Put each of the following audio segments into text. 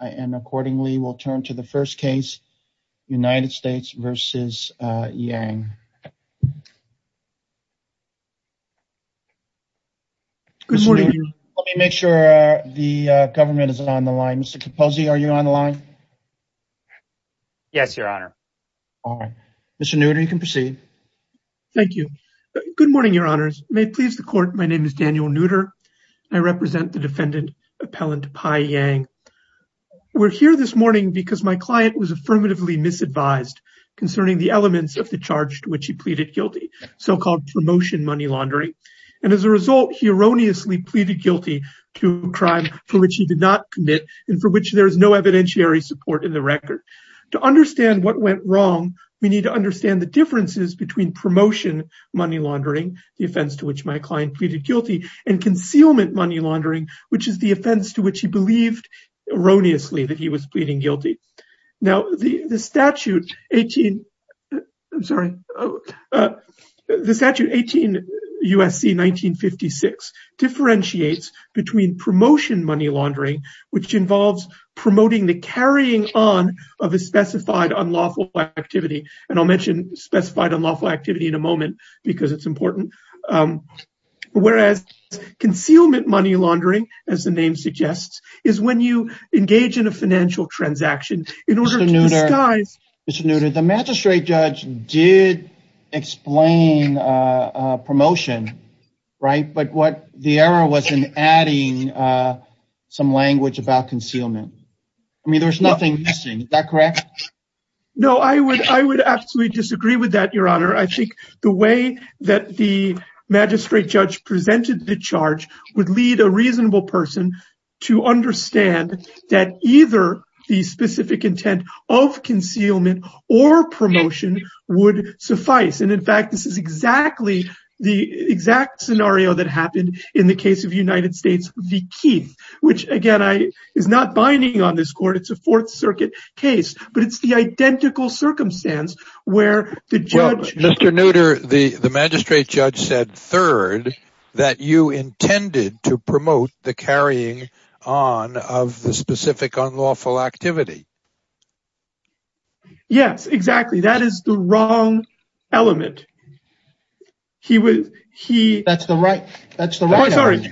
Let me make sure the government is on the line. Mr. Capozzi, are you on the line? Yes, your honor. All right, Mr. Neutter, you can proceed. Thank you. Good morning, your honors. May it please the court, my name is Daniel Neutter. I represent the defendant appellant Pi Yang. We're here this morning because my client was affirmatively misadvised concerning the elements of the charge to which he pleaded guilty, so-called promotion money laundering. And as a result, he erroneously pleaded guilty to a crime for which he did not commit and for which there is no evidentiary support in the record. To understand what went wrong, we need to understand the differences between promotion money laundering, the offense to which my client pleaded guilty, and concealment money laundering, which is the offense to which he believed erroneously that he was pleading guilty. Now, the statute 18, I'm sorry, the statute 18 U.S.C. 1956 differentiates between promotion money laundering, which involves promoting the carrying on of a specified unlawful activity. And I'll mention specified unlawful activity in a moment because it's important. Whereas concealment money laundering, as the name suggests, is when you engage in a financial transaction in order to disguise- Mr. Neutter, the magistrate judge did explain promotion, right? But what the error was in adding some language about concealment. I mean, there's nothing missing, is that correct? No, I would absolutely disagree with that, Your Honor. I think the way that the magistrate judge presented the charge would lead a reasonable person to understand that either the specific intent of concealment or promotion would suffice. And in fact, this is exactly the exact scenario that happened in the case of United States v. Keith, which again, is not binding on this court. It's a Fourth Circuit case, but it's the identical circumstance where the judge- Mr. Neutter, the magistrate judge said, third, that you intended to promote the carrying on of the specific unlawful activity. Yes, exactly. That is the wrong element. He was- That's the right element.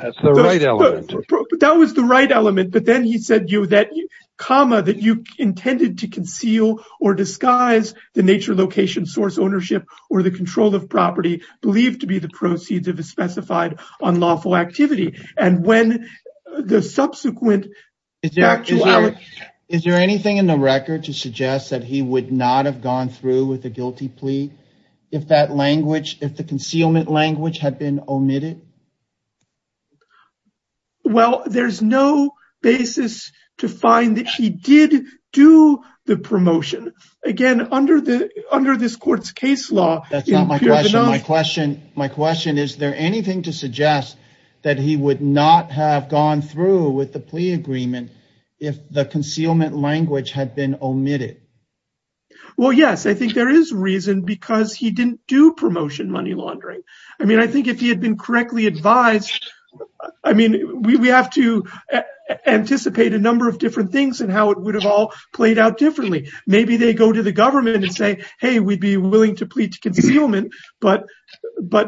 That was the right element, but then he said, comma, that you intended to conceal or disguise the nature, location, source, ownership, or the control of property believed to be the proceeds of a specified unlawful activity. And when the subsequent- Is there anything in the record to suggest that he would not have gone through with a guilty plea if that language, if the Well, there's no basis to find that he did do the promotion. Again, under this court's case law- That's not my question. My question is, is there anything to suggest that he would not have gone through with the plea agreement if the concealment language had been omitted? Well, yes, I think there is reason because he didn't do promotion money laundering. I mean, if he had been correctly advised, I mean, we have to anticipate a number of different things and how it would have all played out differently. Maybe they go to the government and say, hey, we'd be willing to plead to concealment, but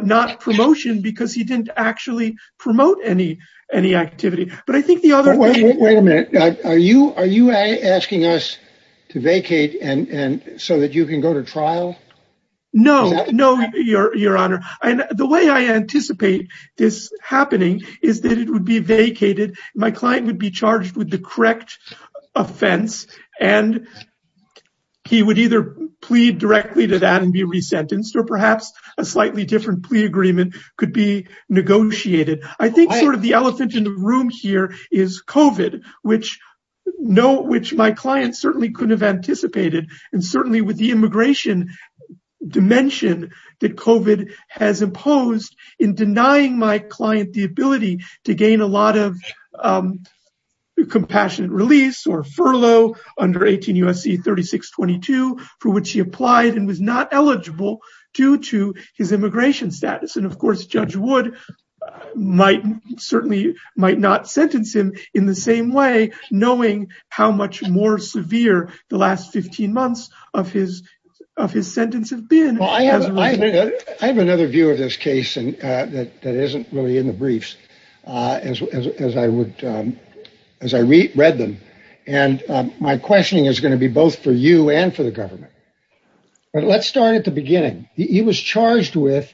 not promotion because he didn't actually promote any activity. But I think the other- Wait a minute. Are you asking us to vacate so that you can go to trial? No, no, Your Honor. And the way I anticipate this happening is that it would be vacated. My client would be charged with the correct offense, and he would either plead directly to that and be resentenced, or perhaps a slightly different plea agreement could be negotiated. I think sort of the elephant in the room here is COVID, which my client certainly couldn't have anticipated. And certainly with the immigration dimension that COVID has imposed in denying my client the ability to gain a lot of compassionate release or furlough under 18 U.S.C. 3622, for which he applied and was not eligible due to his immigration status. And of course, Judge Wood certainly might not sentence him in the same way, knowing how much more severe the last 15 months of his sentence have been. I have another view of this case that isn't really in the briefs as I read them. And my beginning, he was charged with,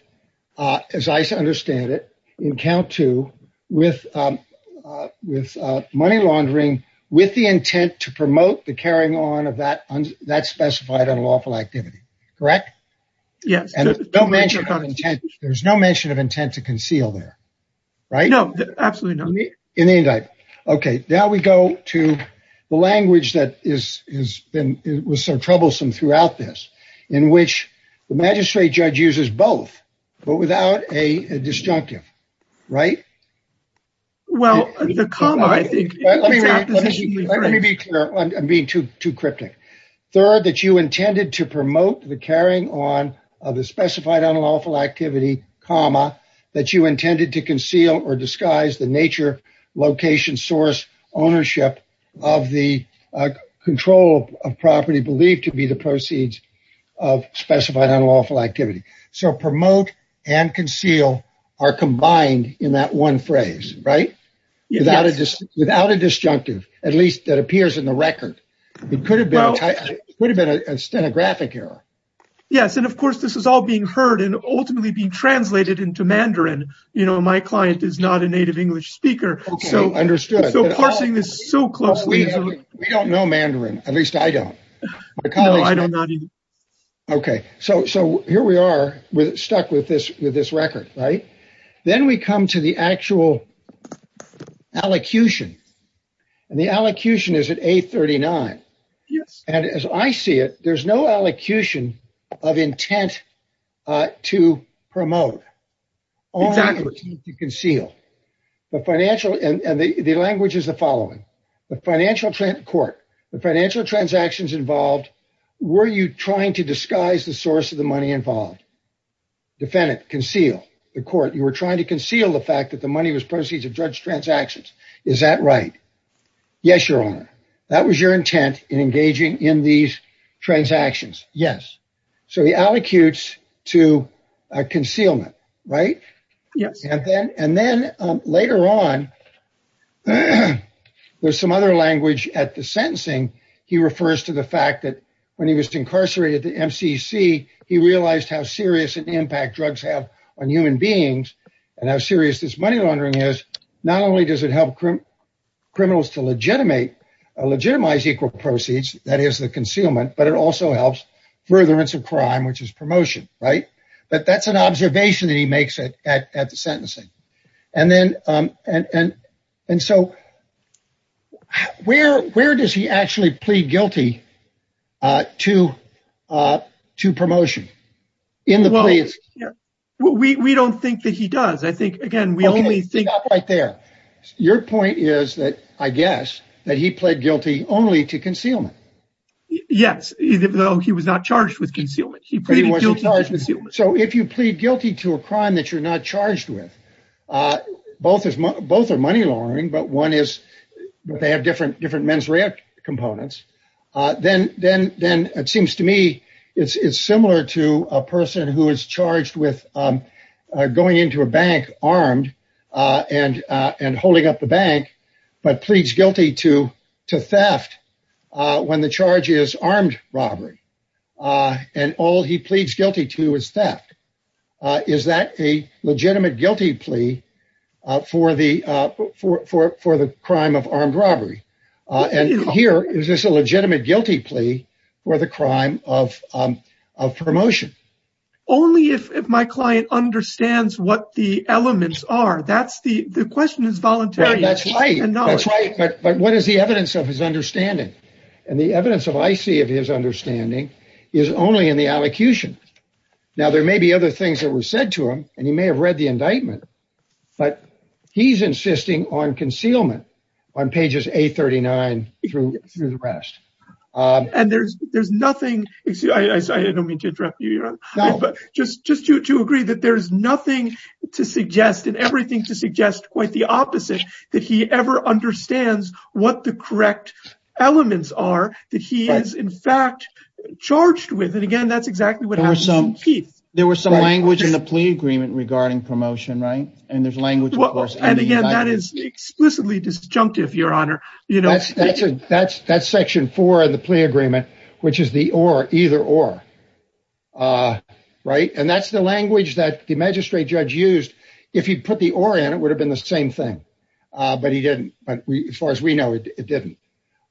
as I understand it, in count two, with money laundering with the intent to promote the carrying on of that specified unlawful activity, correct? Yes. There's no mention of intent to conceal there, right? No, absolutely not. In the indictment. Okay, now we go to the language that was so troublesome throughout this, in which the magistrate judge uses both, but without a disjunctive, right? Well, the comma, I think- Let me be clear. I'm being too cryptic. Third, that you intended to promote the carrying on of the specified unlawful activity, comma, that you intended to conceal or disguise the nature, location, source, ownership of the control of property believed to be the proceeds of specified unlawful activity. So promote and conceal are combined in that one phrase, right? Without a disjunctive, at least that appears in the record. It could have been a stenographic error. Yes. And of course, this is all being heard and ultimately being translated into Mandarin. You know, my client is not a native English speaker. Okay, understood. So parsing this so closely- We don't know Mandarin, at least I don't. No, I do not either. Okay, so here we are, we're stuck with this record, right? Then we come to the actual allocution. And the allocution is at A39. Yes. And as I see it, there's no allocution of intent to promote. Exactly. Only to conceal. The financial, and the language is the following. The financial court, the financial transactions involved, were you trying to disguise the source of the money involved? Defendant, conceal. The court, you were trying to conceal the fact that the money was proceeds of judge transactions. Is that right? Yes, your honor. That was your intent in engaging in these transactions. Yes. So he allocutes to concealment, right? Yes. And then, and then later on, there's some other language at the sentencing. He refers to the fact that when he was incarcerated at the MCC, he realized how serious an impact drugs have on human beings, and how serious this money laundering is. Not only does it help criminals to legitimize equal proceeds, that is the concealment, but it also helps furtherance of crime, which is promotion, right? But that's an observation that he makes it at the sentencing. And then, and, and, and so where, where does he actually plead guilty to, to promotion? In the police? We, we don't think that he does. I think, again, we only think. Stop right there. Your point is that I guess that he pled guilty only to concealment. Yes, even though he was not charged with concealment, he pleaded guilty. So if you plead guilty to a crime that you're not charged with, both is both are money laundering, but one is that they have different, different mens rea components. Then, then, then it seems to me it's, it's similar to a person who is charged with going into a bank armed and, and holding up the bank, but pleads guilty to, to theft when the charge is armed robbery. And all he pleads guilty to is theft. Is that a legitimate guilty plea for the, for, for, for the crime of armed robbery? And here, is this a legitimate guilty plea or the crime of, of promotion? Only if my client understands what the elements are. That's the, the question is voluntary. That's right. But what is the evidence of his understanding? And the evidence of IC of his understanding is only in the allocution. Now there may be other things that were said to him and he may have read the indictment, but he's insisting on concealment on pages 839 through the rest. And there's, there's nothing, I don't mean to interrupt you, but just, just to, to agree that there's nothing to suggest and everything to suggest quite the opposite that he ever understands what the correct elements are that he is in fact charged with. And again, that's exactly what happened. There were some language in the plea agreement regarding promotion, right? And there's language, of course. And again, that is explicitly disjunctive, your honor. You know, that's, that's, that's section four of the plea agreement, which is the or, either or. Right. And that's the language that the magistrate judge used. If he put the or in, it would have been the same thing. But he didn't. But as far as we know, it didn't.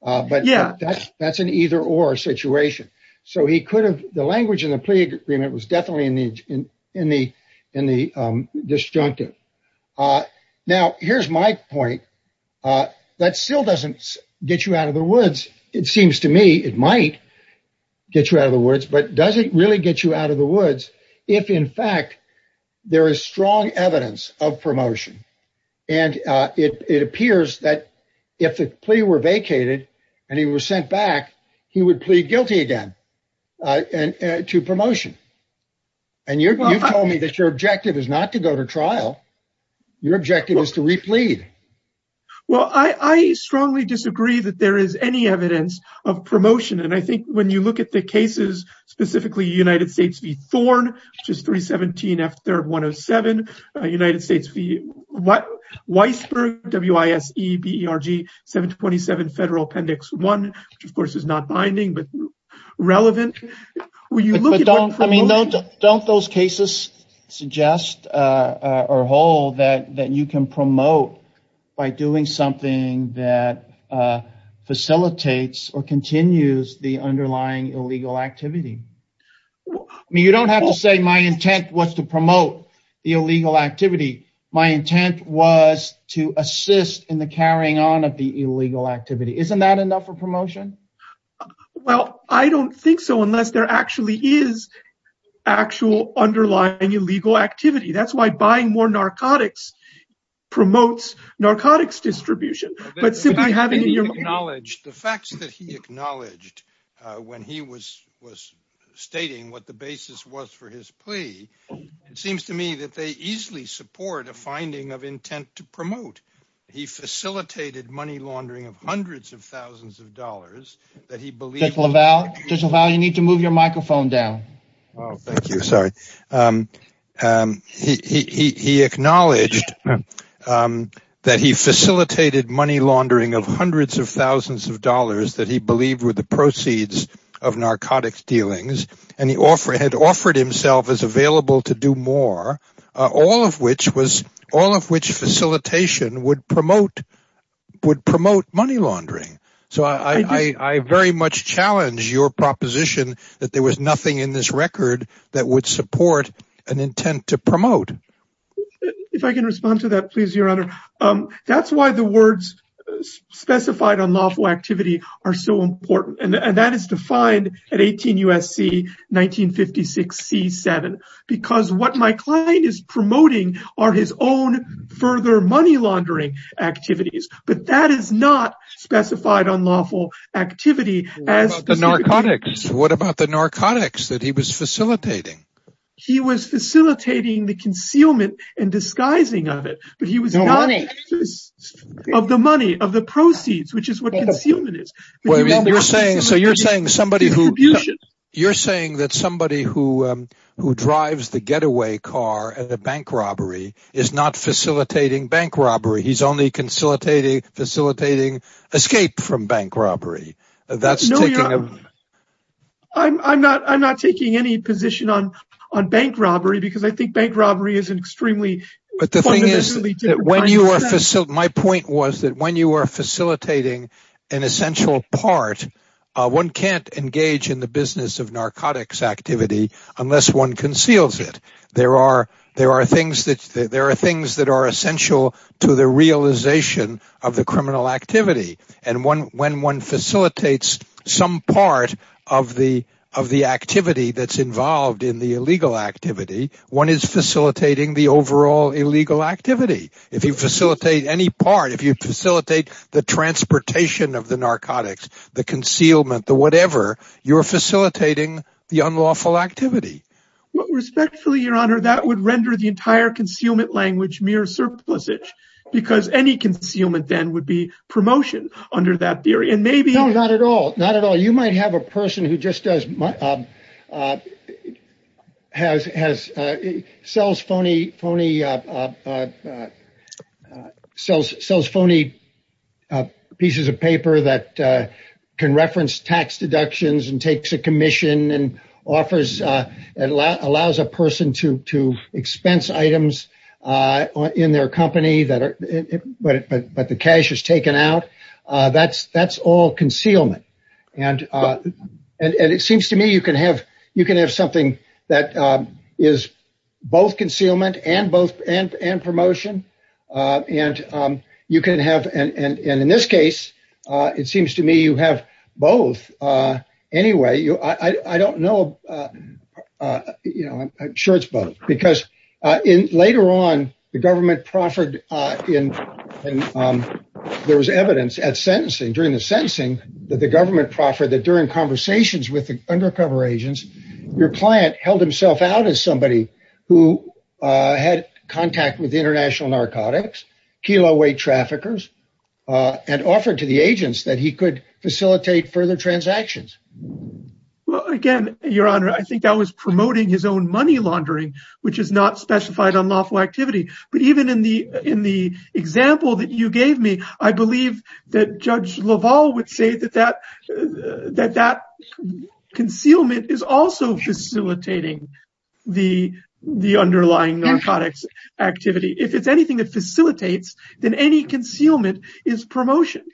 But yeah, that's, that's an either or situation. So he could have, the language in the plea agreement was definitely in the, in the, in the disjunctive. Now, here's my point. That still doesn't get you out of the woods. It seems to me it might get you out of the woods, but does it really get you out of the woods? If in fact, there is strong evidence of promotion. And it appears that if the plea were and you're, you've told me that your objective is not to go to trial, your objective is to replead. Well, I, I strongly disagree that there is any evidence of promotion. And I think when you look at the cases, specifically United States v. Thorne, which is 317 F 3rd 107, United States v. Weisberg, W I S E B E R G 727 federal appendix one, which of course is not binding, but relevant. I mean, don't, don't those cases suggest or hold that, that you can promote by doing something that facilitates or continues the underlying illegal activity? I mean, you don't have to say my intent was to promote the illegal activity. My intent was to assist in the carrying on of the illegal activity. Isn't that enough for promotion? Well, I don't think so unless there actually is actual underlying illegal activity. That's why buying more narcotics promotes narcotics distribution, but simply having your knowledge, the facts that he acknowledged when he was, was stating what the basis was for his plea. It seems to me that they easily support a finding of intent to promote. He facilitated money laundering of hundreds of thousands of dollars that he believed. You need to move your microphone down. Oh, thank you. Sorry. He, he, he, he acknowledged that he facilitated money laundering of hundreds of thousands of dollars that he believed were the proceeds of narcotics dealings. And he offered, had offered himself as available to do more, uh, all of which was all of which facilitation would promote, would promote money laundering. So I, I, I very much challenge your proposition that there was nothing in this record that would support an intent to promote. If I can respond to that, please, your honor. Um, that's why the words specified on lawful activity are so important. And that is defined at 18 USC, 1956 C seven, because what my client is promoting are his own further money laundering activities, but that is not specified on lawful activity as the narcotics. What about the narcotics that he was facilitating? He was facilitating the concealment and disguising of it, but he was not of the money of the you're saying that somebody who, um, who drives the getaway car at a bank robbery is not facilitating bank robbery. He's only consolidating facilitating escape from bank robbery. That's no, I'm not, I'm not taking any position on, on bank robbery because I think bank robbery is an extremely, but the thing is that when you are facility, my point was that when you are facilitating an essential part, uh, one can't engage in the business of narcotics activity unless one conceals it. There are, there are things that there are things that are essential to the realization of the criminal activity. And one, when one facilitates some part of the, of the activity that's involved in the illegal activity, one is facilitating the overall illegal activity. If you facilitate any part, if you facilitate the transportation of the narcotics, the concealment, the whatever, you are facilitating the unlawful activity. Respectfully, your honor, that would render the entire concealment language mere surplusage because any concealment then would be promotion under that theory. And maybe not at all. Not at all. You might have a person who just does has, has a cells phony, phony cells, cells, phony pieces of paper that can reference tax deductions and takes a commission and offers, uh, and allow, allows a person to, to expense items, uh, uh, in their company that are, but the cash is taken out. Uh, that's, that's all concealment. And, uh, and, and it seems to me, you can have, you can have something that, um, is both concealment and both and, and promotion. Uh, and, um, you can have, and, and, and in this case, uh, it seems to me you have both, uh, anyway, you, I, I don't know, uh, uh, you know, I'm sure it's both because, uh, in later on government proffered, uh, in, um, there was evidence at sentencing during the sentencing that the government proffered that during conversations with the undercover agents, your client held himself out as somebody who, uh, had contact with international narcotics, Kilo weight traffickers, uh, and offered to the agents that he could facilitate further transactions. Well, again, your honor, I think that was promoting his own money laundering, which is not specified on lawful activity, but even in the, in the example that you gave me, I believe that judge Laval would say that, that, uh, that, that concealment is also facilitating the, the underlying narcotics activity. If it's anything that facilitates than any concealment is promotion.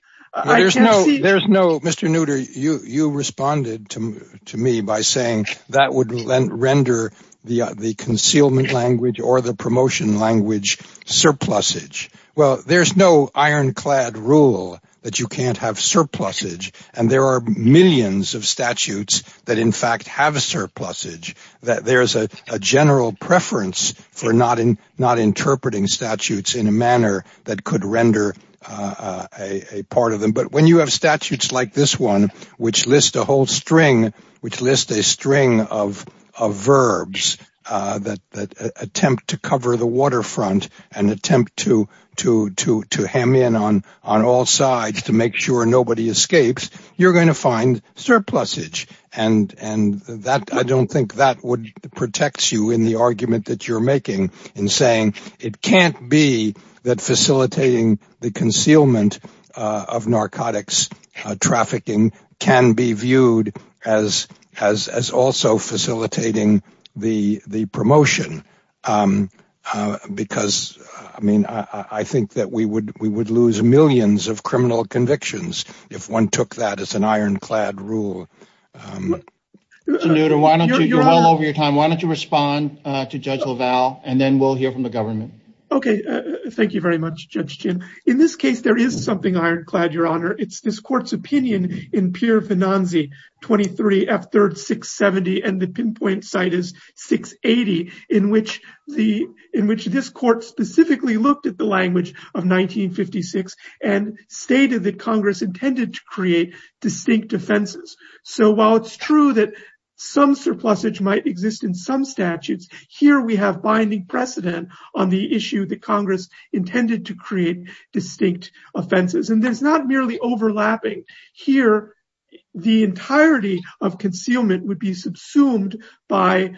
There's no, there's no Mr. Neuter. You, you responded to me by saying that would render the, the concealment language or the promotion language surplus age. Well, there's no iron clad rule that you can't have surplus age. And there are millions of statutes that in fact have a surplus age, that there's a general preference for not in, not interpreting statutes in a manner that could render, uh, uh, a part of them. But when you have statutes like this one, which lists a whole string, which lists a string of, of verbs, uh, that, that attempt to cover the waterfront and attempt to, to, to, to ham in on, on all sides to make sure nobody escapes, you're going to find surplus age. And, and that I don't think that would protect you in the argument that you're making in saying it can't be that the concealment, uh, of narcotics trafficking can be viewed as, as, as also facilitating the, the promotion. Um, uh, because I mean, I, I think that we would, we would lose millions of criminal convictions if one took that as an iron clad rule. Um, you're all over your time. Why don't you respond to judge LaValle and then we'll hear from the government. Okay. Uh, thank you very much, Judge Chin. In this case, there is something iron clad, Your Honor. It's this court's opinion in Pierre Venanzi 23 F 3rd 670. And the pinpoint site is 680 in which the, in which this court specifically looked at the language of 1956 and stated that Congress intended to create distinct offenses. So while it's true that some surplusage might exist in some statutes here, we have binding precedent on the issue that Congress intended to create distinct offenses. And there's not merely overlapping here. The entirety of concealment would be subsumed by,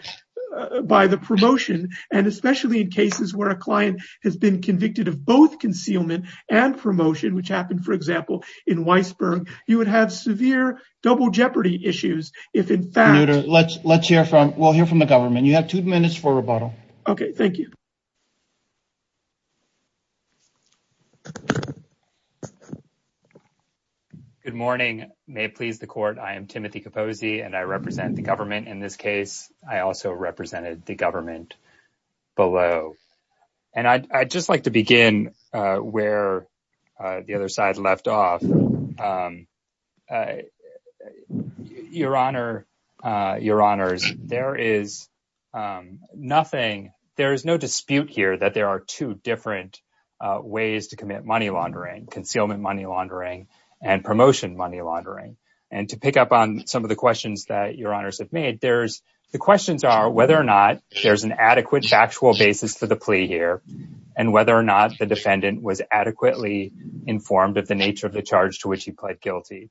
uh, by the promotion. And especially in cases where a client has been convicted of both concealment and promotion, which happened, for example, in Weisberg, you would have severe double jeopardy issues. If in fact, let's, let's hear from, we'll hear from the government. You have two minutes for rebuttal. Okay. Thank you. Good morning. May it please the court. I am Timothy Capozzi and I represent the government. In this case, I also represented the government below and I, I just like to begin, uh, where, uh, the other side left off. Um, uh, your honor, uh, your honors, there is, um, nothing, there is no dispute here that there are two different, uh, ways to commit money laundering, concealment money laundering, and promotion money laundering. And to pick up on some of the questions that your honors have made, there's the questions are whether or not there's an adequate factual basis for the plea here and whether or not the defendant was adequately informed of the nature of the charge to which he pled guilty.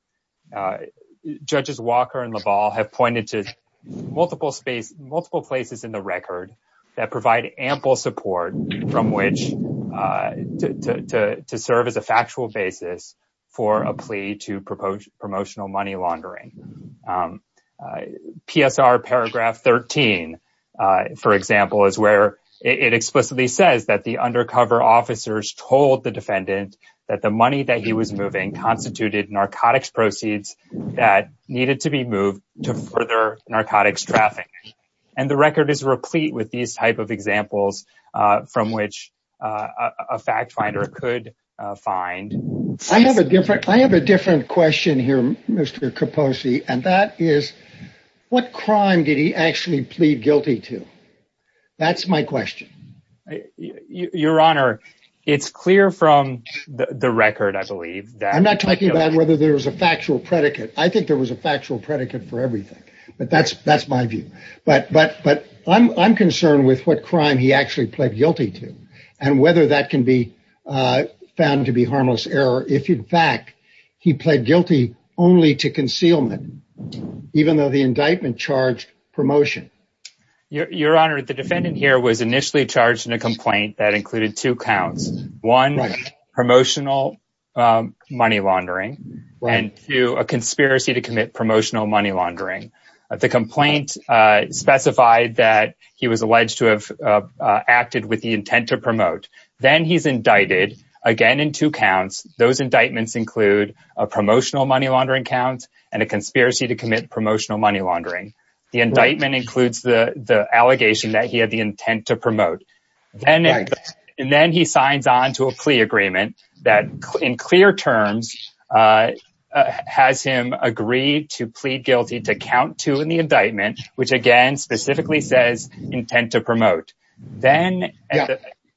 Uh, judges Walker and LaValle have pointed to multiple space, multiple places in the record that provide ample support from which, uh, to, to, to serve as a factual basis for a plea to propose promotional money laundering. Um, uh, PSR paragraph 13, uh, for example, is where it explicitly says that the undercover officers told the defendant that the money that he was moving constituted narcotics proceeds that needed to be moved to further narcotics traffic. And the record is replete with these type of examples, uh, from which, uh, a fact finder could, uh, find. I have a different, I have a different question here, Mr. Kaposi, and that is what crime did he actually plead guilty to? That's my question. Your honor, it's clear from the record, I believe. I'm not talking about whether there was a factual predicate. I think there was a factual predicate for everything, but that's, that's my view. But, but, but I'm, I'm concerned with what crime he actually pled guilty to and whether that can be, found to be harmless error. If in fact he pled guilty only to concealment, even though the indictment charged promotion. Your honor, the defendant here was initially charged in a complaint that included two counts, one promotional, um, money laundering and two, a conspiracy to commit promotional money laundering. The complaint, uh, specified that he was alleged to have, uh, uh, acted with the intent to promote. Then he's indicted again in two counts. Those indictments include a promotional money laundering count and a conspiracy to commit promotional money laundering. The indictment includes the, the allegation that he had the intent to promote. And then he signs on to a plea agreement that in clear terms, uh, has him agreed to plead guilty to count two in the indictment, which again, specifically says intent to promote. Then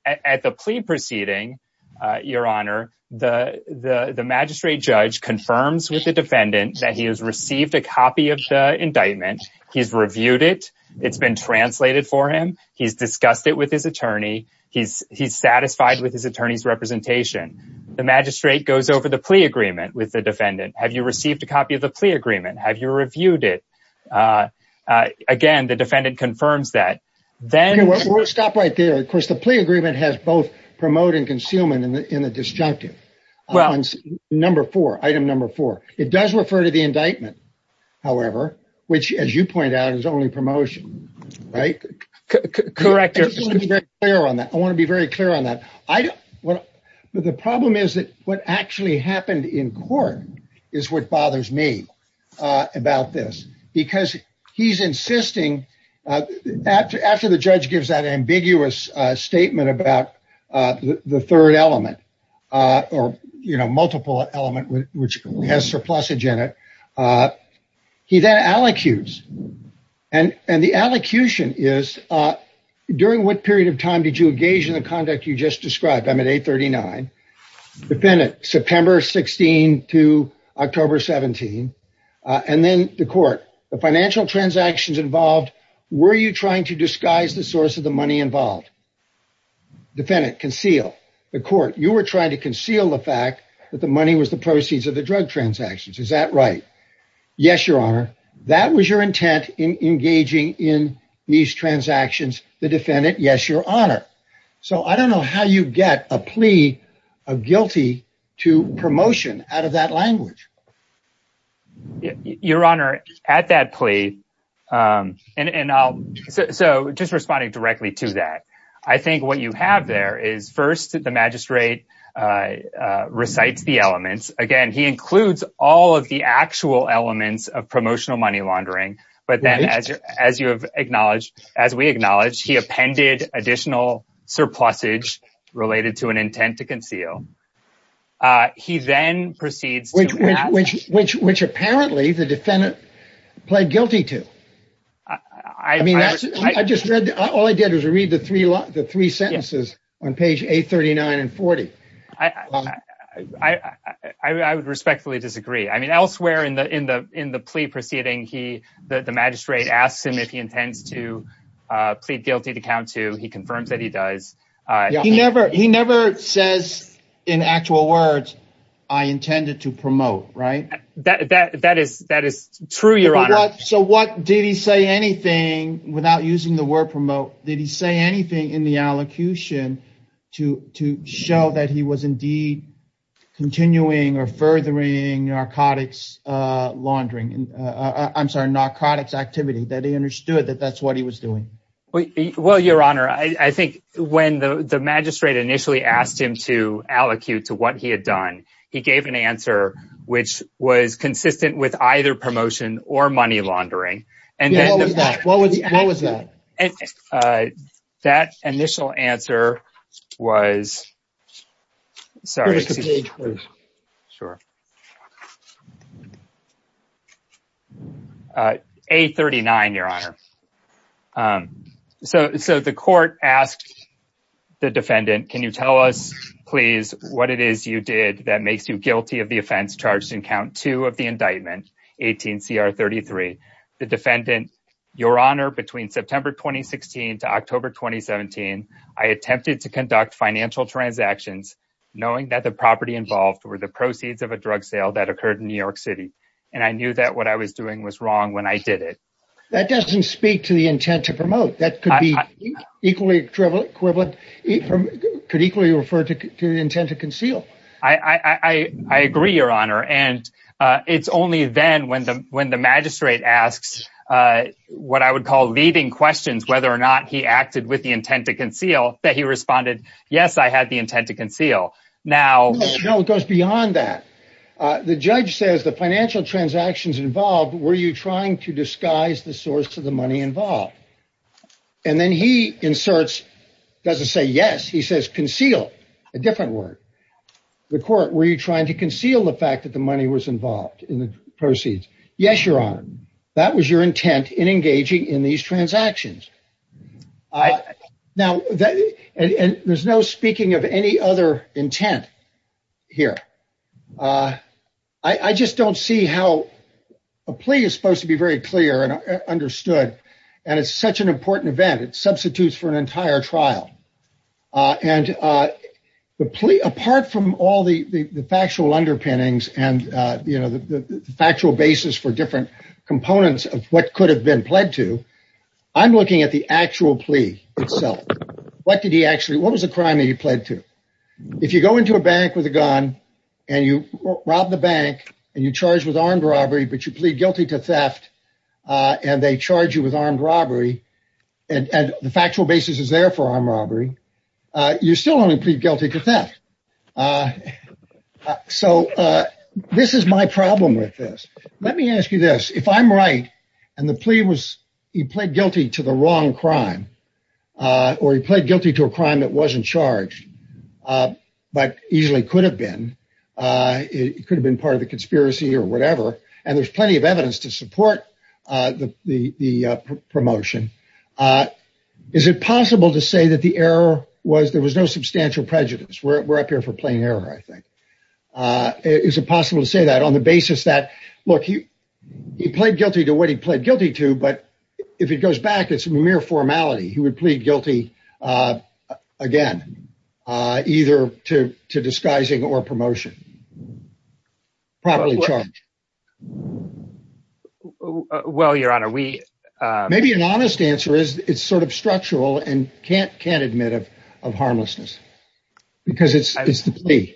at the plea proceeding, uh, your honor, the, the, the magistrate judge confirms with the defendant that he has received a copy of the indictment. He's reviewed it. It's been translated for him. He's discussed it with his attorney. He's, he's satisfied with his defendant. Have you received a copy of the plea agreement? Have you reviewed it? Uh, uh, again, the defendant confirms that then we'll stop right there. Of course, the plea agreement has both promote and concealment in the, in the disjunctive number four, item number four, it does refer to the indictment. However, which as you point out is only promotion, right? Correct. I want to be very clear on that. I don't want to, but the problem is that what happened in court is what bothers me, uh, about this because he's insisting, uh, after, after the judge gives that ambiguous, uh, statement about, uh, the third element, uh, or, you know, multiple element, which has surplus agenda. Uh, he then allocutes and, and the allocution is, uh, during what period of time did you engage in the conduct you just described? I'm at eight 39 defendant September 16 to October 17. Uh, and then the court, the financial transactions involved, were you trying to disguise the source of the money involved? Defendant conceal the court. You were trying to conceal the fact that the money was the proceeds of the drug transactions. Is that right? Yes, your honor. That was your intent in engaging in these transactions. The promotion out of that language, your honor at that plea. Um, and, and I'll so just responding directly to that. I think what you have there is first, the magistrate, uh, uh, recites the elements. Again, he includes all of the actual elements of promotional money laundering, but then as you, as you have acknowledged, as we acknowledged, he appended additional surplus age related to an intent to conceal. Uh, he then proceeds, which, which, which, which apparently the defendant pled guilty to, I mean, I just read, all I did was read the three, the three sentences on page eight 39 and 40. I, I would respectfully disagree. I mean, elsewhere in the, in the, in the plea proceeding, he, the magistrate asked him if he intends to does. Uh, he never, he never says in actual words, I intended to promote, right? That, that, that is, that is true. Your honor. So what did he say anything without using the word promote? Did he say anything in the allocution to, to show that he was indeed continuing or furthering narcotics, uh, laundering, uh, uh, I'm sorry, narcotics activity that he understood that that's what he was doing. Well, your honor, I think when the, the magistrate initially asked him to allocute to what he had done, he gave an answer, which was consistent with either promotion or money laundering. And then what was that? Uh, that initial answer was sorry. Sure. Uh, eight 39, your honor. Um, so, so the court asked the defendant, can you tell us please what it is you did that makes you guilty of the offense charged in count two of the indictment 18 CR 33, the defendant, your honor, between September, 2016 to October, 2017, I attempted to conduct financial transactions knowing that the property involved were the proceeds of a that occurred in New York city. And I knew that what I was doing was wrong when I did it. That doesn't speak to the intent to promote that could be equally equivalent equivalent could equally refer to the intent to conceal. I, I, I, I agree your honor. And, uh, it's only then when the, when the magistrate asks, uh, what I would call leading questions, whether or not he acted with the intent to conceal that he responded. Yes. I had the intent to conceal now. No, it goes beyond that. Uh, the judge says the financial transactions involved, were you trying to disguise the source of the money involved? And then he inserts, doesn't say yes. He says, conceal a different word. The court, were you trying to conceal the fact that the money was involved in the proceeds? Yes, your honor. That was your intent in engaging in these transactions. Uh, now that, and there's no speaking of any other intent here. Uh, I, I just don't see how a plea is supposed to be very clear and understood. And it's such an important event. It substitutes for an entire trial. Uh, and, uh, the plea apart from all the, the, the factual underpinnings and, uh, you know, the, the factual basis for different components of what could have been pled to, I'm looking at the actual plea itself. What did he actually, what was the crime that he pled to? If you go into a bank with a gun and you robbed the bank and you charged with armed robbery, but you plead guilty to theft, uh, and they charge you with armed robbery and the factual basis is there for armed robbery. Uh, you're still only plead guilty to theft. Uh, so, uh, this is my problem with this. Let me ask you this. If I'm right, and the plea was, he pled guilty to the wrong crime, uh, or he pled guilty to a crime that wasn't charged, uh, but easily could have been, uh, it could have been part of the conspiracy or whatever. And there's plenty of evidence to support, uh, the, the, uh, promotion. Uh, is it possible to say that the error was, there was no substantial prejudice. We're, we're up here for plain error. I think, uh, is it possible to say that on the basis that, look, he, he pled guilty to what he pled guilty to, but if it goes back, it's mere formality, he would plead guilty, uh, again, uh, either to, to disguising or promotion. Properly charged. Well, your honor, we, uh, maybe an honest answer is it's sort of structural and can't, can't admit of, of harmlessness because it's, it's the plea.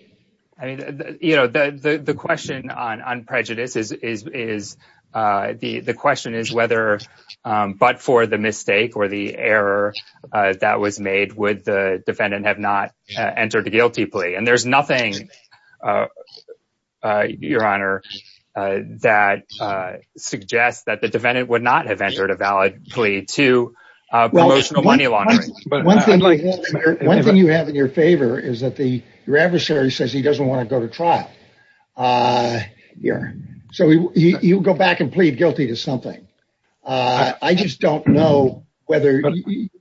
I mean, you know, the, the, the question on, on prejudice is, is, is, uh, the, the question is whether, um, but for the mistake or the error, uh, that was made with the defendant have not entered a guilty plea. And there's nothing, uh, uh, your honor, uh, that, uh, suggests that the defendant would not have entered a valid plea to, uh, promotional money laundering. One thing you have in your favor is that the, your adversary says he doesn't want to go to trial. Uh, yeah. So you go back and plead guilty to something. Uh, I just don't know whether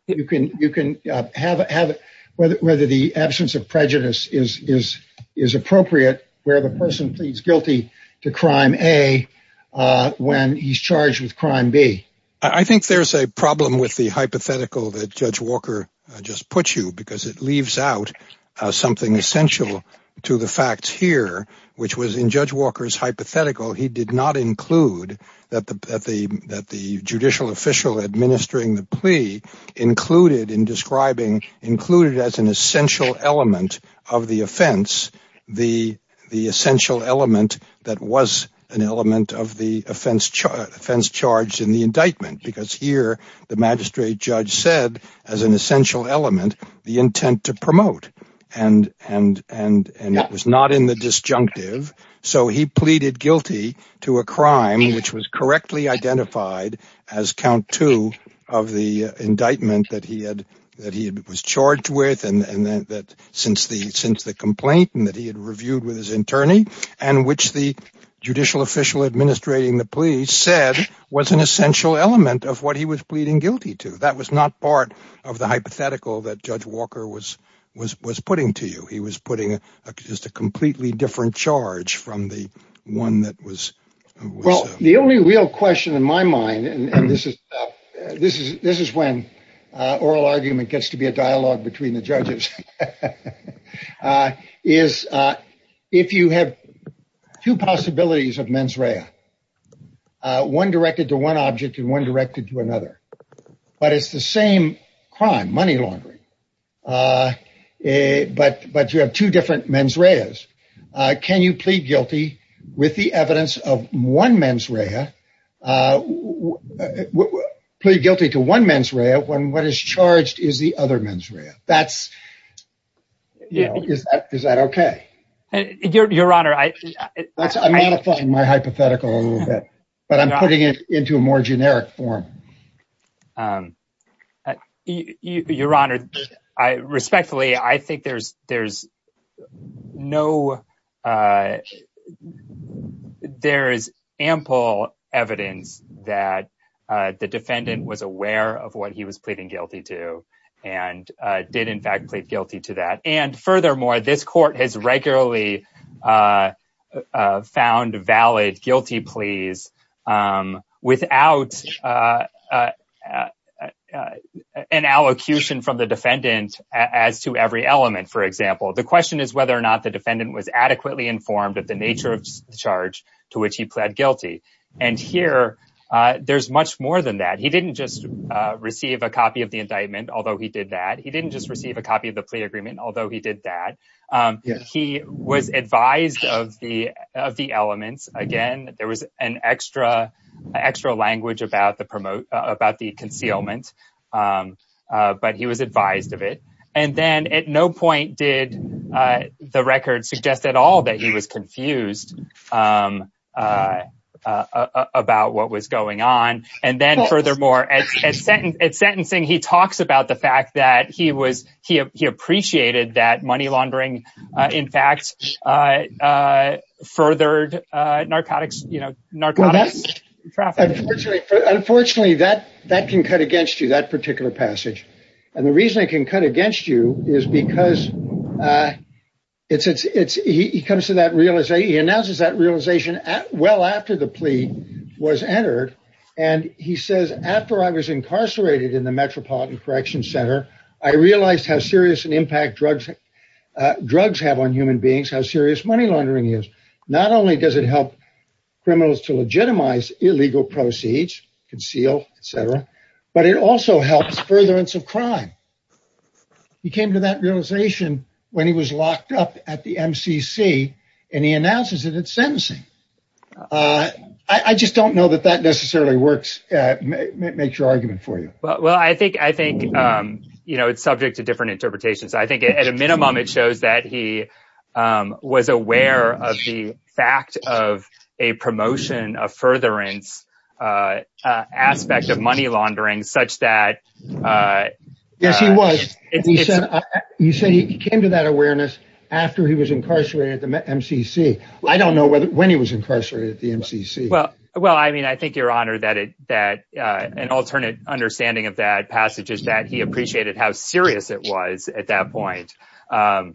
you can, you can, uh, have, have whether the absence of prejudice is, is, is appropriate where the person pleads guilty to crime a, uh, when he's charged with crime B. I think there's a problem with the hypothetical that judge Walker just put you because it leaves out something essential to the facts here, which was in judge Walker's hypothetical. He did not include that the, that the, that the judicial official administering the plea included in describing included as an essential element of the offense, the, the essential element that was an element of the offense, offense charged in the indictment, because here the magistrate judge said as an essential element, the intent to promote and, and, and, and it was not in the disjunctive. So he pleaded guilty to a crime, which was correctly identified as count two of the indictment that he had, that he was charged with. And then that since the, since the complaint and that he had reviewed with his attorney and which the judicial official administrating the plea said was an essential element of what he was pleading guilty to, that was not part of the hypothetical that judge Walker was, was, was putting to you. He was And this is, this is, this is when oral argument gets to be a dialogue between the judges is if you have two possibilities of mens rea, one directed to one object and one directed to another, but it's the same crime, money laundering. But, but you have two different mens reas. Can you plead guilty with the evidence of one mens rea, plead guilty to one mens rea when what is charged is the other mens rea that's, you know, is that, is that okay? Your, your honor, I, I'm modifying my hypothetical a little bit, but I'm putting it into a more generic form. Your honor, I respectfully, I think there's, there's no there is ample evidence that the defendant was aware of what he was pleading guilty to and did in fact plead guilty to that. And furthermore, this court has regularly found valid guilty pleas without an allocution from the defendant as to every element. For example, the question is whether or not the defendant was adequately informed of the nature of the charge to which he pled guilty. And here there's much more than that. He didn't just receive a copy of the indictment, although he did that. He didn't just receive a copy of the plea agreement, although he did that. He was advised of the, of the elements. Again, there was an extra, extra language about the promote, about the concealment. But he was advised of it. And then at no point did the record suggest at all that he was confused about what was going on. And then furthermore, at sentencing, he talks about the fact that he was, he appreciated that money laundering, in fact, furthered narcotics, you know, narcotics. Unfortunately, that, that can cut against you, that particular passage. And the reason it can cut against you is because it's, it's, it's, he comes to that realization, he announces that plea was entered. And he says, after I was incarcerated in the Metropolitan Correction Center, I realized how serious an impact drugs, drugs have on human beings, how serious money laundering is. Not only does it help criminals to legitimize illegal proceeds, conceal, etc., but it also helps furtherance of crime. He came to that realization when he was locked up at the I just don't know that that necessarily works, make your argument for you. Well, I think I think, you know, it's subject to different interpretations. I think at a minimum, it shows that he was aware of the fact of a promotion of furtherance aspect of money laundering such that. Yes, he was. He said he came to that awareness after he was incarcerated at the MCC. I don't know whether when he was incarcerated at the MCC. Well, well, I mean, I think you're honored that it that an alternate understanding of that passage is that he appreciated how serious it was at that point. But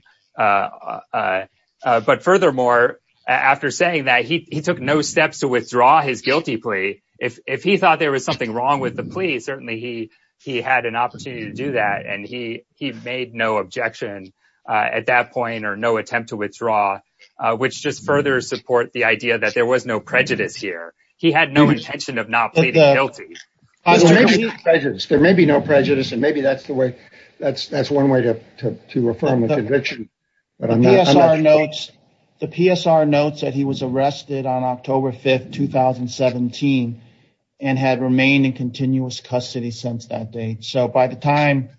furthermore, after saying that he took no steps to withdraw his guilty plea. If he thought there was something wrong with the plea, certainly he, he had an opportunity to do that. And he he made no objection at that point or no attempt to withdraw, which just further support the idea that there was no prejudice here. He had no intention of not pleading guilty. There may be no prejudice and maybe that's the way that's that's one way to to reform the conviction. The PSR notes that he was arrested on October 5th, 2017, and had remained in continuous custody since that date. So by the time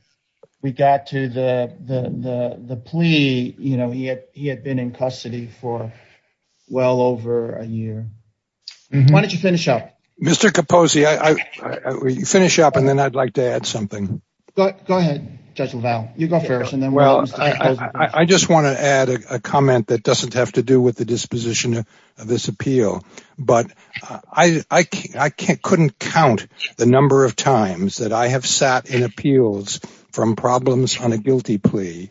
we got to the the the plea, you know, he had he had been in custody for well over a year. Why don't you finish up, Mr. Kaposi? I finish up and then I'd like to add something. Go ahead, Judge LaValle. You go first. And then well, I just want to add a comment that doesn't have to do with the disposition of this appeal. But I I can't couldn't count the number of times that I have sat in appeals from problems on a guilty plea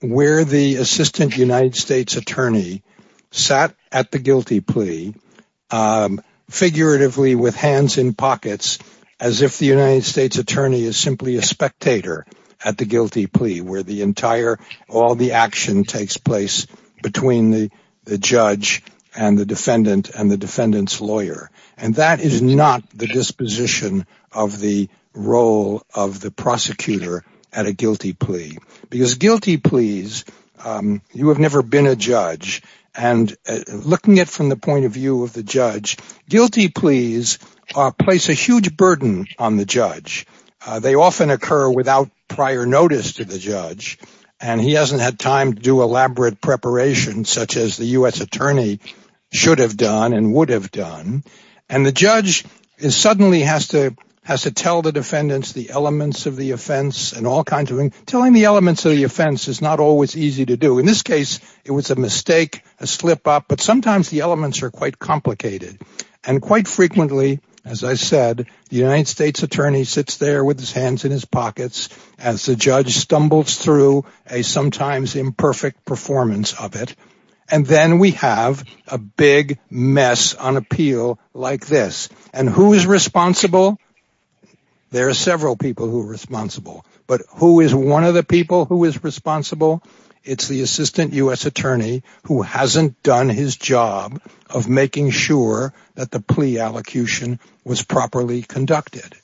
where the assistant United States attorney sat at the guilty plea figuratively with hands in pockets as if the United States attorney is simply a spectator at the guilty plea where the entire all the action takes place between the the judge and the defendant and the defendant's lawyer. And that is not the disposition of the role of the prosecutor at a guilty plea. Because guilty pleas, you have never been a judge. And looking at from the point of view of the judge, guilty pleas place a huge burden on the judge. They often occur without prior notice to the judge. And he hasn't had time to do elaborate preparation such as the U.S. attorney should have done and would have done. And the has to tell the defendants the elements of the offense and all kinds of telling the elements of the offense is not always easy to do. In this case, it was a mistake, a slip up. But sometimes the elements are quite complicated. And quite frequently, as I said, the United States attorney sits there with his hands in his pockets as the judge stumbles through a sometimes imperfect performance of it. And then we have a big mess on appeal like this. And who is responsible? There are several people who are responsible. But who is one of the people who is responsible? It's the assistant U.S. attorney who hasn't done his job of making sure that the plea allocution was properly conducted.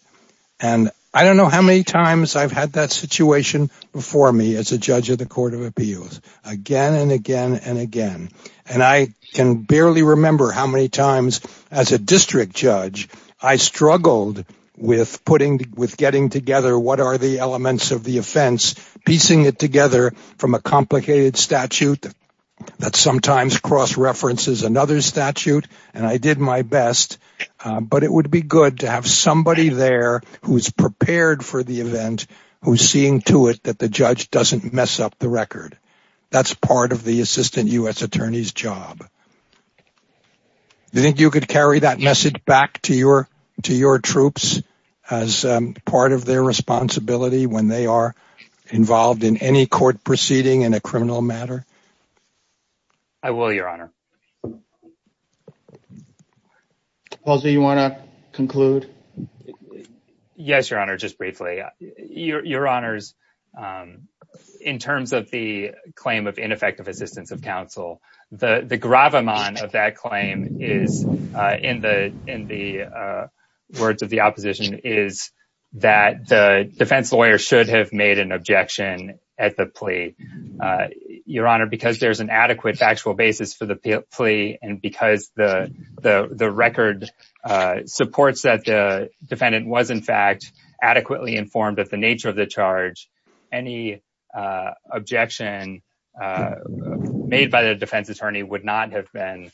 And I don't know how many times I've had that situation before me as a judge of the Court of Appeals. Again and again and again. And I can barely remember how many times as a district judge, I struggled with getting together what are the elements of the offense, piecing it together from a complicated statute that sometimes cross-references another statute. And I did my best. But it would be good to have somebody there who is prepared for the event, who is seeing to it that the judge doesn't mess up the record. That's part of the assistant U.S. attorney's job. Do you think you could carry that message back to your troops as part of their responsibility when they are involved in any court proceeding in a criminal matter? I will, Your Honor. Paul, do you want to conclude? Yes, Your Honor, just briefly. Your Honor, in terms of the claim of ineffective assistance of counsel, the gravamon of that claim is, in the words of the opposition, is that the defense lawyer should have made an objection at the plea. Your Honor, because there's an adequate factual defendant was, in fact, adequately informed of the nature of the charge, any objection made by the defense attorney would not have been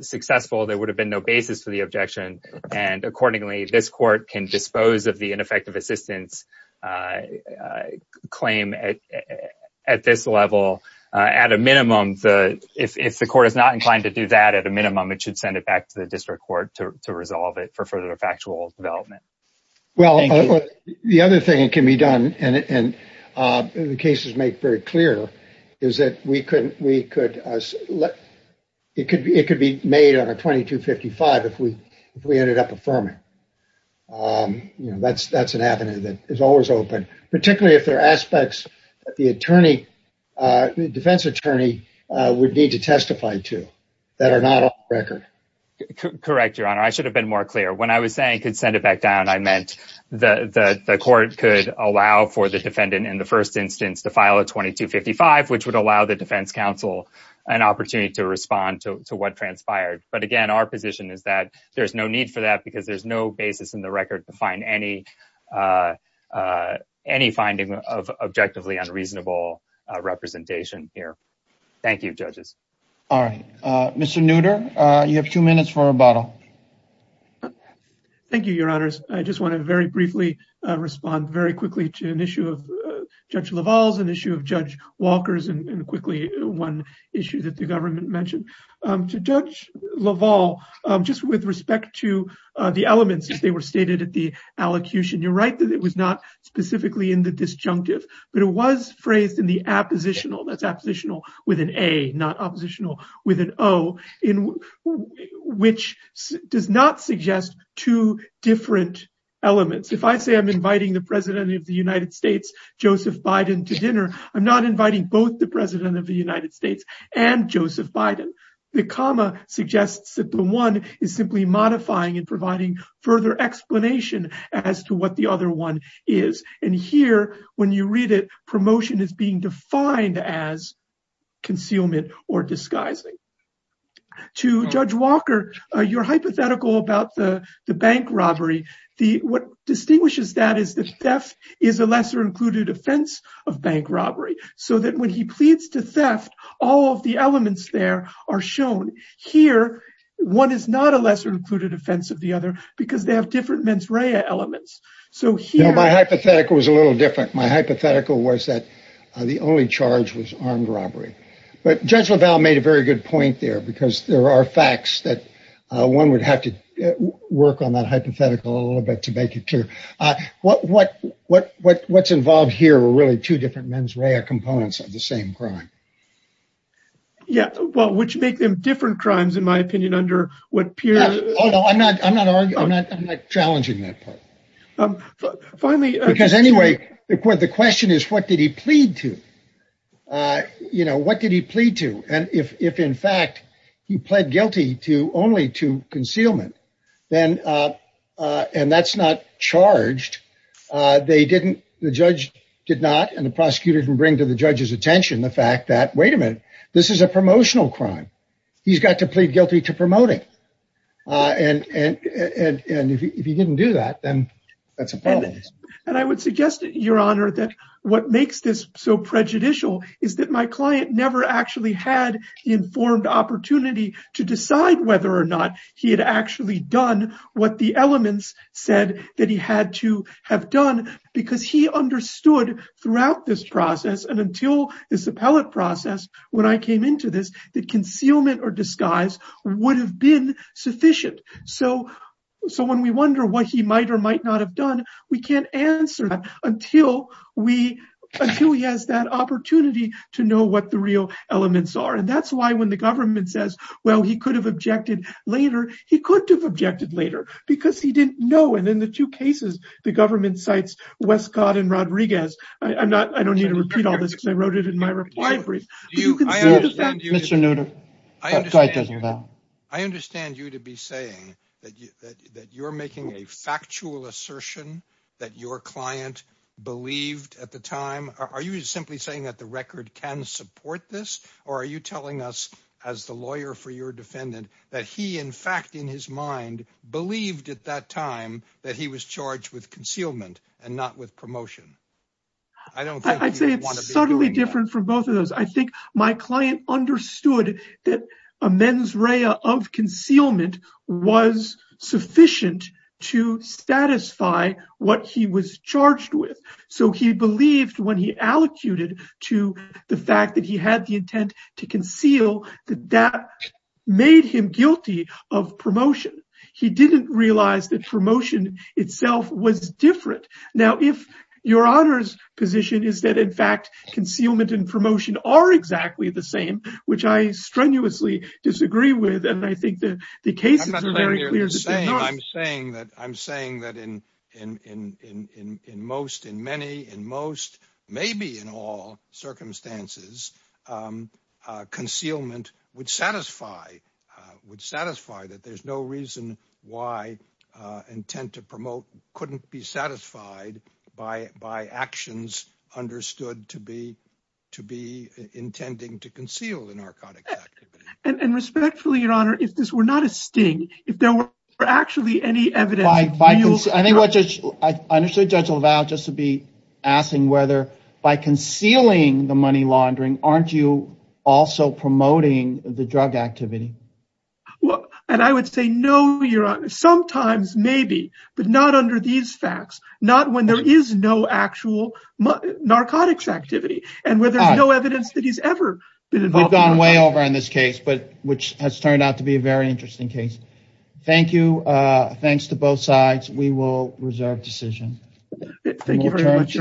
successful. There would have been no basis for the objection. And accordingly, this court can dispose of the ineffective assistance claim at this level. At a minimum, if the court is not inclined to do that, at a minimum, it should send it back to the district court to resolve it for further factual development. The other thing that can be done, and the cases make very clear, is that it could be made on a 2255 if we ended up affirming. That's an avenue that is always open, particularly if there are Correct, Your Honor. I should have been more clear. When I was saying could send it back down, I meant that the court could allow for the defendant in the first instance to file a 2255, which would allow the defense counsel an opportunity to respond to what transpired. But again, our position is that there's no need for that because there's no basis in the record to find any finding of objectively unreasonable representation here. Thank you, judges. All right. Mr. Nutter, you have two minutes for a rebuttal. Thank you, Your Honors. I just want to very briefly respond very quickly to an issue of Judge LaValle's, an issue of Judge Walker's, and quickly one issue that the government mentioned. To Judge LaValle, just with respect to the elements as they were stated at the allocution, you're right that it was not specifically in the disjunctive, but it was phrased in the appositional. That's appositional with an A, not oppositional with an O, which does not suggest two different elements. If I say I'm inviting the President of the United States, Joseph Biden, to dinner, I'm not inviting both the President of the United States and Joseph Biden. The comma suggests that the one is simply modifying and providing further explanation as to what the other one is. And here, when you read it, promotion is being defined as concealment or disguising. To Judge Walker, your hypothetical about the bank robbery, what distinguishes that is the theft is a lesser included offense of bank robbery. So that when he pleads to theft, all of the elements there are shown. Here, one is not a lesser included offense of the other because they have different mens rea elements. My hypothetical was a little different. My hypothetical was that the only charge was armed robbery. But Judge LaValle made a very good point there because there are facts that one would have to work on that hypothetical a little bit to make it clear. What's involved here are really two different mens rea components of the same crime. Yeah, well, which make them different crimes, in my opinion, under what period? Oh, no, I'm not. I'm not. I'm not. I'm not challenging that part. Finally, because anyway, the question is, what did he plead to? You know, what did he plead to? And if in fact, he pled guilty to only to concealment, then and that's not charged. They didn't. The judge did not. And the prosecutor can bring to the this is a promotional crime. He's got to plead guilty to promoting. And if he didn't do that, then that's a problem. And I would suggest, Your Honor, that what makes this so prejudicial is that my client never actually had the informed opportunity to decide whether or not he had actually done what the elements said that he had to have done because he understood throughout this process and until this appellate process, when I came into this, that concealment or disguise would have been sufficient. So so when we wonder what he might or might not have done, we can't answer that until we until he has that opportunity to know what the real elements are. And that's why when the government says, well, he could have objected later, he could have objected later because he didn't know. And in the two cases, the government cites Westcott and Rodriguez. I'm not I don't need to repeat all this because I wrote it in my reply brief. Do you? Mr. Nutter, I understand you to be saying that that you're making a factual assertion that your client believed at the time. Are you simply saying that the record can support this or are you telling us as the lawyer for your defendant that he, in fact, in his mind, believed at that time that he was charged with concealment and not with promotion? I don't I say it's subtly different from both of those. I think my client understood that a mens rea of concealment was sufficient to satisfy what he was charged with. So he believed when he allocated to the fact that he had the intent to conceal that that made him guilty of promotion. He didn't realize that promotion itself was different. Now, if your honor's position is that, in fact, concealment and promotion are exactly the same, which I strenuously disagree with. And I think that the case is very clear. I'm saying that I'm saying that in in in in in most in many and most maybe in all circumstances, um, uh, concealment would satisfy, uh, would satisfy that there's no reason why, uh, intent to promote couldn't be satisfied by by actions understood to be to be intending to conceal the narcotics. And respectfully, your honor, if this were not a sting, if there were actually any evidence, I think what I understood, Judge LaValle just to be asking whether by concealing the money laundering, aren't you also promoting the drug activity? Well, and I would say no, your honor, sometimes maybe, but not under these facts, not when there is no actual narcotics activity and where there's no evidence that he's ever been involved. We've gone way over in this case, but which has turned out to be a very interesting case. Thank you. Uh, thanks to both sides. We will reserve decision. Thank you very much.